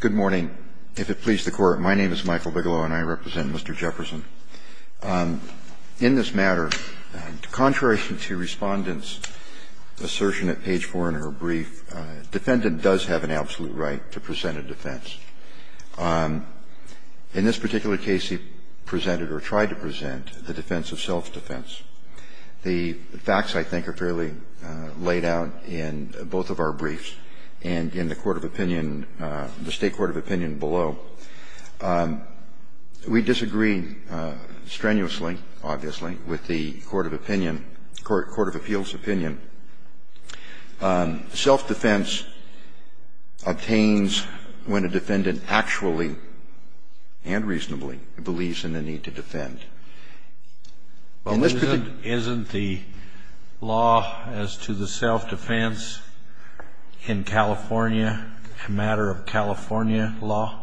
Good morning. If it pleases the Court, my name is Michael Bigelow, and I represent Mr. Jefferson. In this matter, contrary to respondents' assertion at page 4 in her brief, a defendant does have an absolute right to present a defense. In this particular case, he presented or tried to present the defense of self-defense. The facts, I think, are fairly laid out in both of our briefs, and in the State Court of Opinion below. We disagree strenuously, obviously, with the Court of Appeals' opinion. Self-defense obtains when a defendant actually and reasonably believes in the need to defend. Isn't the law as to the self-defense in California a matter of California law?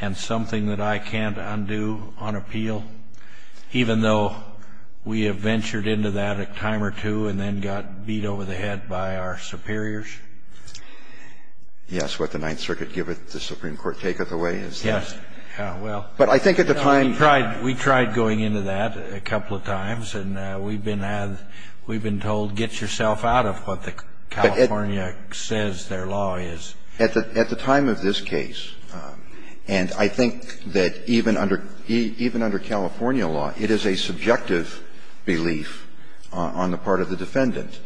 And something that I can't undo on appeal, even though we have ventured into that a time or two and then got beat over the head by our superiors? Yes. What the Ninth Circuit giveth, the Supreme Court taketh away. Yes. Well, we tried going into that a couple of times, and we've been told, get yourself out of what the California says their law is. At the time of this case, and I think that even under California law, it is a subjective belief on the part of the defendant.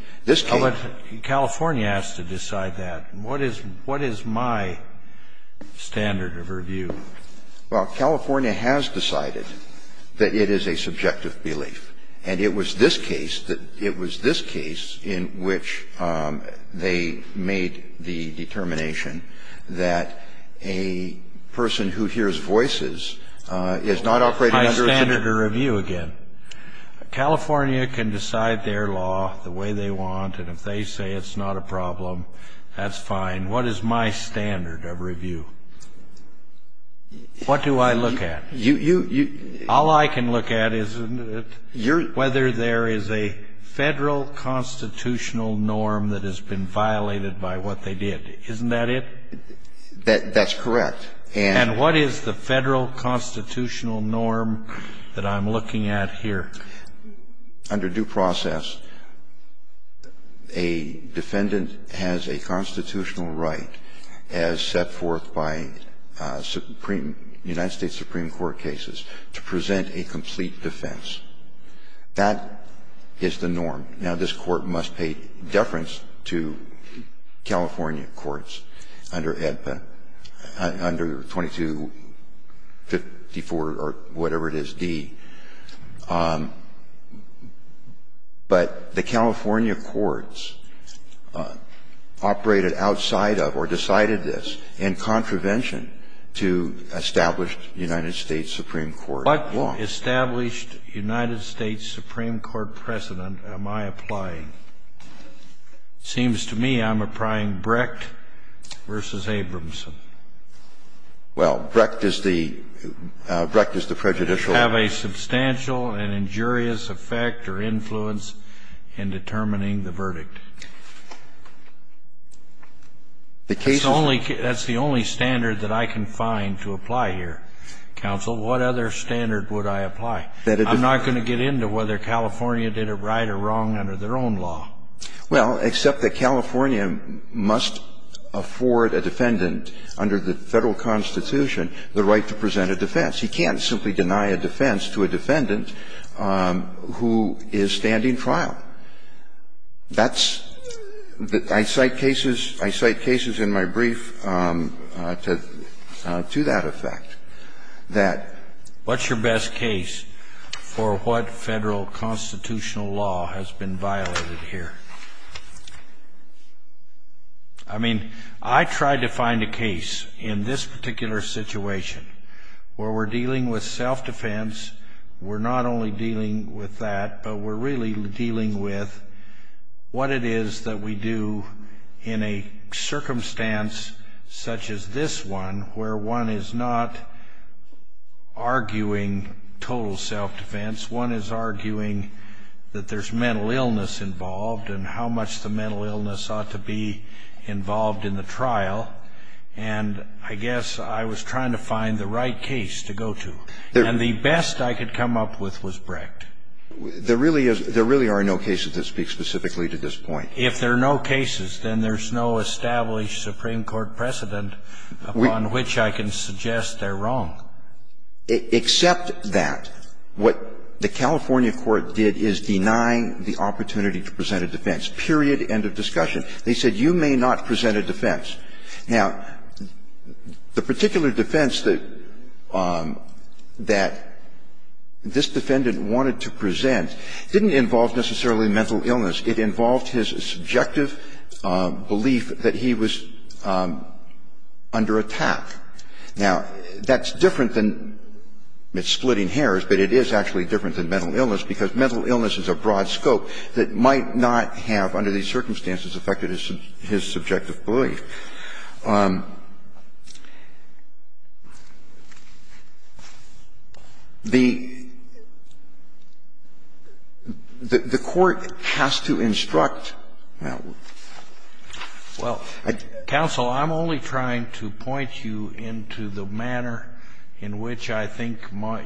California has to decide that. What is my standard of review? Well, California has decided that it is a subjective belief. And it was this case that it was this case in which they made the determination that a person who hears voices is not operating under a standard of review. California can decide their law the way they want, and if they say it's not a problem, that's fine. What is my standard of review? What do I look at? You, you, you. All I can look at is whether there is a Federal constitutional norm that has been violated by what they did. Isn't that it? That's correct. And what is the Federal constitutional norm that I'm looking at here? Under due process, a defendant has a constitutional right as set forth by supreme united States supreme court cases to present a complete defense. That is the norm. Now, this Court must pay deference to California courts under EDPA, under 2254 or whatever it is, D. But the California courts operated outside of or decided this in contravention to established United States supreme court law. What established United States supreme court precedent am I applying? It seems to me I'm applying Brecht v. Abramson. Well, Brecht is the, Brecht is the prejudicial. Have a substantial and injurious effect or influence in determining the verdict. That's the only standard that I can find to apply here, counsel. What other standard would I apply? I'm not going to get into whether California did it right or wrong under their own Well, except that California must afford a defendant under the Federal constitution the right to present a defense. He can't simply deny a defense to a defendant who is standing trial. That's the, I cite cases, I cite cases in my brief to that effect, that. What's your best case for what Federal constitutional law has been violated here? I mean, I tried to find a case in this particular situation where we're dealing with self-defense, we're not only dealing with that, but we're really dealing with what it is that we do in a circumstance such as this one where one is not arguing total self-defense. One is arguing that there's mental illness involved and how much the mental illness ought to be involved in the trial. And I guess I was trying to find the right case to go to. And the best I could come up with was Brecht. There really is, there really are no cases that speak specifically to this point. If there are no cases, then there's no established Supreme Court precedent upon which I can suggest they're wrong. Except that what the California court did is deny the opportunity to present a defense, period, end of discussion. They said you may not present a defense. Now, the particular defense that this defendant wanted to present didn't involve necessarily mental illness. It involved his subjective belief that he was under attack. Now, that's different than splitting hairs, but it is actually different than mental illness because mental illness is a broad scope that might not have, under these circumstances, affected his subjective belief. The court has to instruct. Well, counsel, I'm only trying to point you into the manner in which I think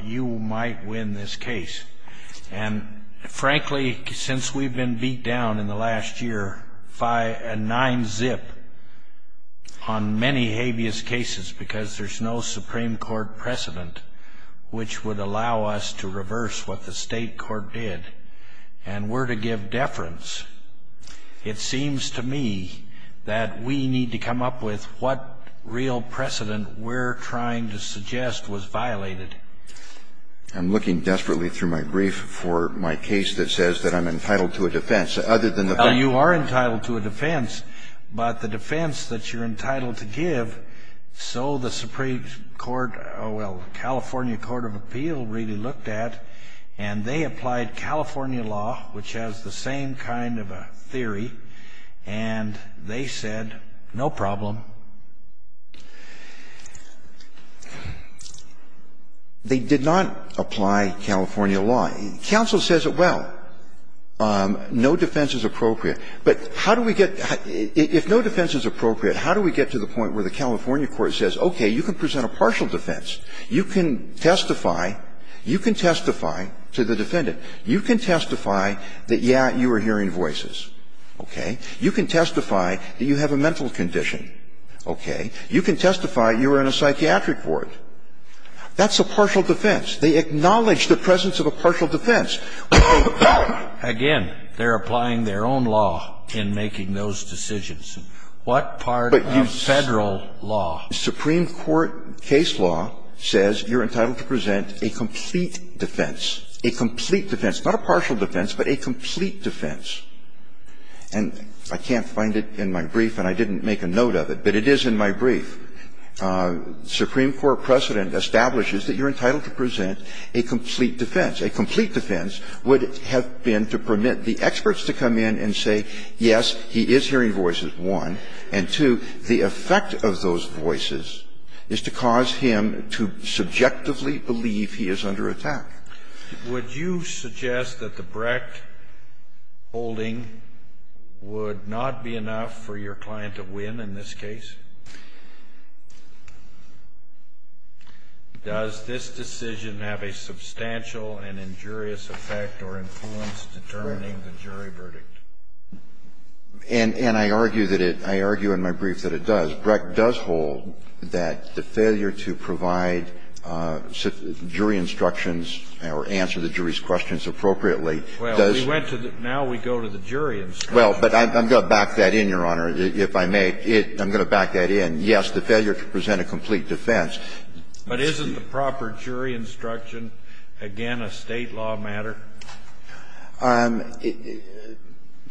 you might win this case. And, frankly, since we've been beat down in the last year by a nine-zip, on many habeas cases because there's no Supreme Court precedent which would allow us to reverse what the State court did and were to give deference, it seems to me that we need to come up with what real precedent we're trying to suggest was violated. I'm looking desperately through my brief for my case that says that I'm entitled to a defense. Well, you are entitled to a defense, but the defense that you're entitled to give, so the Supreme Court, well, California Court of Appeal really looked at, and they applied California law, which has the same kind of a theory, and they said, no problem. They did not apply California law. Counsel says, well, no defense is appropriate. But how do we get, if no defense is appropriate, how do we get to the point where the California court says, okay, you can present a partial defense. You can testify. You can testify to the defendant. You can testify that, yeah, you were hearing voices. Okay? You can testify that you have a mental condition. Okay? You can testify you were in a psychiatric ward. That's a partial defense. They acknowledge the presence of a partial defense. Again, they're applying their own law in making those decisions. What part of Federal law? Supreme Court case law says you're entitled to present a complete defense, a complete defense, not a partial defense, but a complete defense. And I can't find it in my brief, and I didn't make a note of it, but it is in my brief. Supreme Court precedent establishes that you're entitled to present a complete defense. A complete defense would have been to permit the experts to come in and say, yes, he is hearing voices, one. And, two, the effect of those voices is to cause him to subjectively believe he is under attack. Kennedy, would you suggest that the Brecht holding would not be enough for your client to win in this case? Does this decision have a substantial and injurious effect or influence determining the jury verdict? And I argue that it – I argue in my brief that it does. Brecht does hold that the failure to provide jury instructions or answer the jury's questions appropriately does – Well, we went to the – now we go to the jury instructions. Well, but I'm going to back that in, Your Honor, if I may. I'm going to back that in. Yes, the failure to present a complete defense. But isn't the proper jury instruction, again, a State law matter?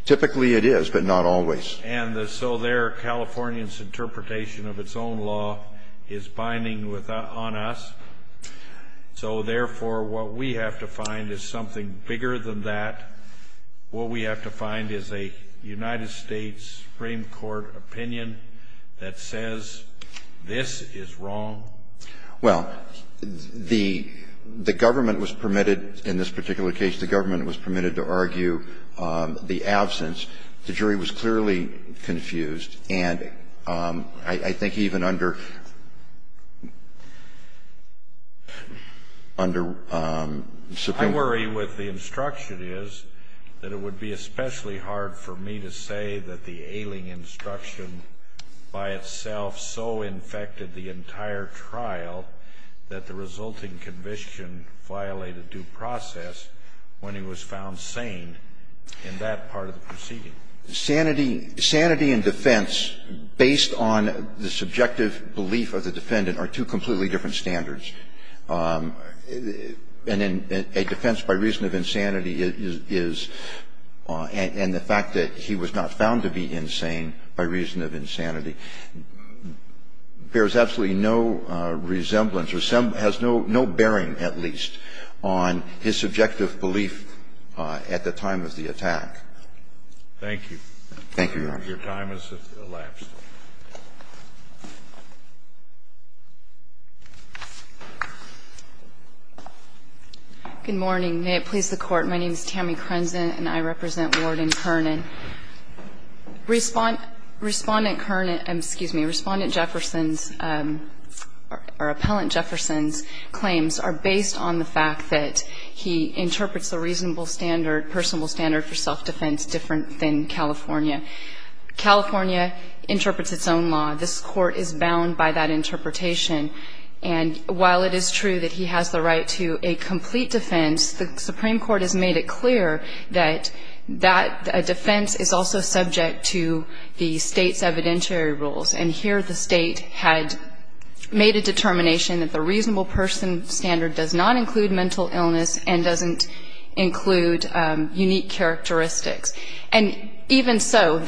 Typically it is, but not always. And so there, California's interpretation of its own law is binding on us. So, therefore, what we have to find is something bigger than that. What we have to find is a United States Supreme Court opinion that says this is wrong. Well, the – the government was permitted in this particular case, the government was permitted to argue the absence. The jury was clearly confused. I worry what the instruction is, that it would be especially hard for me to say that the ailing instruction by itself so infected the entire trial that the resulting conviction violated due process when he was found sane in that part of the proceeding. Sanity – sanity and defense, based on the subjective belief of the defendant, are two completely different standards. And in a defense by reason of insanity is – and the fact that he was not found to be insane by reason of insanity bears absolutely no resemblance or has no bearing, at least, on his subjective belief at the time of the attack. Thank you. Thank you, Your Honor. Your time has elapsed. Good morning. May it please the Court. My name is Tammy Krenze and I represent Ward and Kern. Respondent Kern – excuse me. Respondent Jefferson's or Appellant Jefferson's claims are based on the fact that he interprets the reasonable standard, personable standard for self-defense different than California. California interprets its own law. This Court is bound by that interpretation. And while it is true that he has the right to a complete defense, the Supreme Court has made it clear that that defense is also subject to the State's evidentiary rules. And here the State had made a determination that the reasonable person standard does not include mental illness and doesn't include unique characteristics. And even so,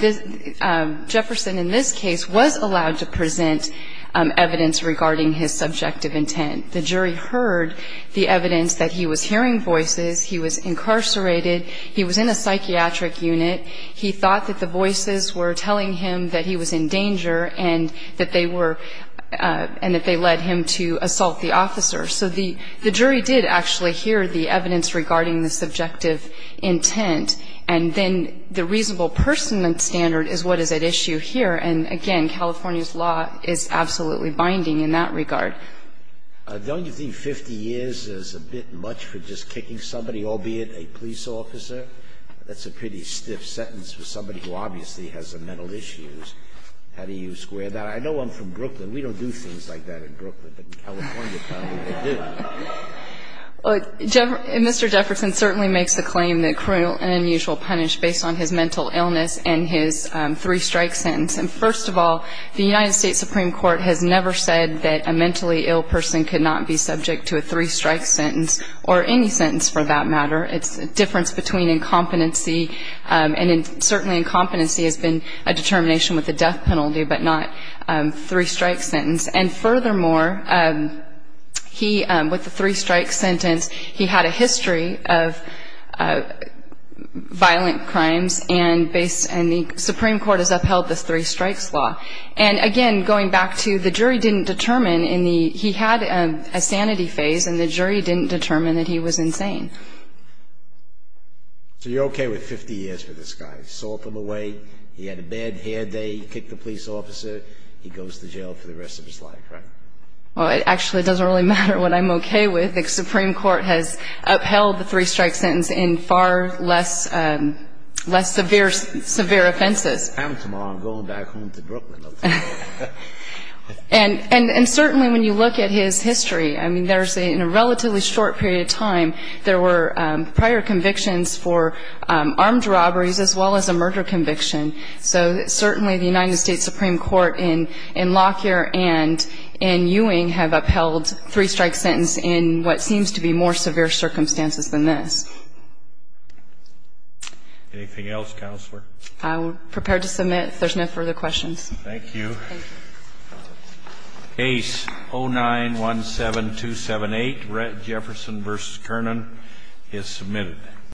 Jefferson in this case was allowed to present evidence regarding his subjective intent. The jury heard the evidence that he was hearing voices, he was incarcerated, he was in a psychiatric unit. He thought that the voices were telling him that he was in danger and that they were – and that they led him to assault the officer. So the jury did actually hear the evidence regarding the subjective intent, and then the reasonable person standard is what is at issue here. And again, California's law is absolutely binding in that regard. Scalia, don't you think 50 years is a bit much for just kicking somebody, albeit a police officer? That's a pretty stiff sentence for somebody who obviously has a mental issue. How do you square that? I know I'm from Brooklyn. We don't do things like that in Brooklyn, but in California probably we do. Well, Mr. Jefferson certainly makes the claim that criminal and unusual punish based on his mental illness and his three-strike sentence. And first of all, the United States Supreme Court has never said that a mentally ill person could not be subject to a three-strike sentence or any sentence for that matter. It's a difference between incompetency, and certainly incompetency has been a determination with a death penalty but not three-strike sentence. And furthermore, he, with the three-strike sentence, he had a history of violent crimes, and the Supreme Court has upheld the three-strikes law. And again, going back to the jury didn't determine in the he had a sanity phase, and the jury didn't determine that he was insane. So you're okay with 50 years for this guy? Assault him away, he had a bad hair day, he kicked a police officer, he goes to jail. That's what it's like, right? Well, it actually doesn't really matter what I'm okay with. The Supreme Court has upheld the three-strike sentence in far less severe offenses. And tomorrow I'm going back home to Brooklyn. And certainly when you look at his history, I mean, there's a relatively short period of time there were prior convictions for armed robberies as well as a murder conviction. So certainly the United States Supreme Court in Lockyer and in Ewing have upheld three-strike sentence in what seems to be more severe circumstances than this. Anything else, Counselor? I'm prepared to submit if there's no further questions. Thank you. Case 09-17278, Rhett Jefferson v. Kernan is submitted.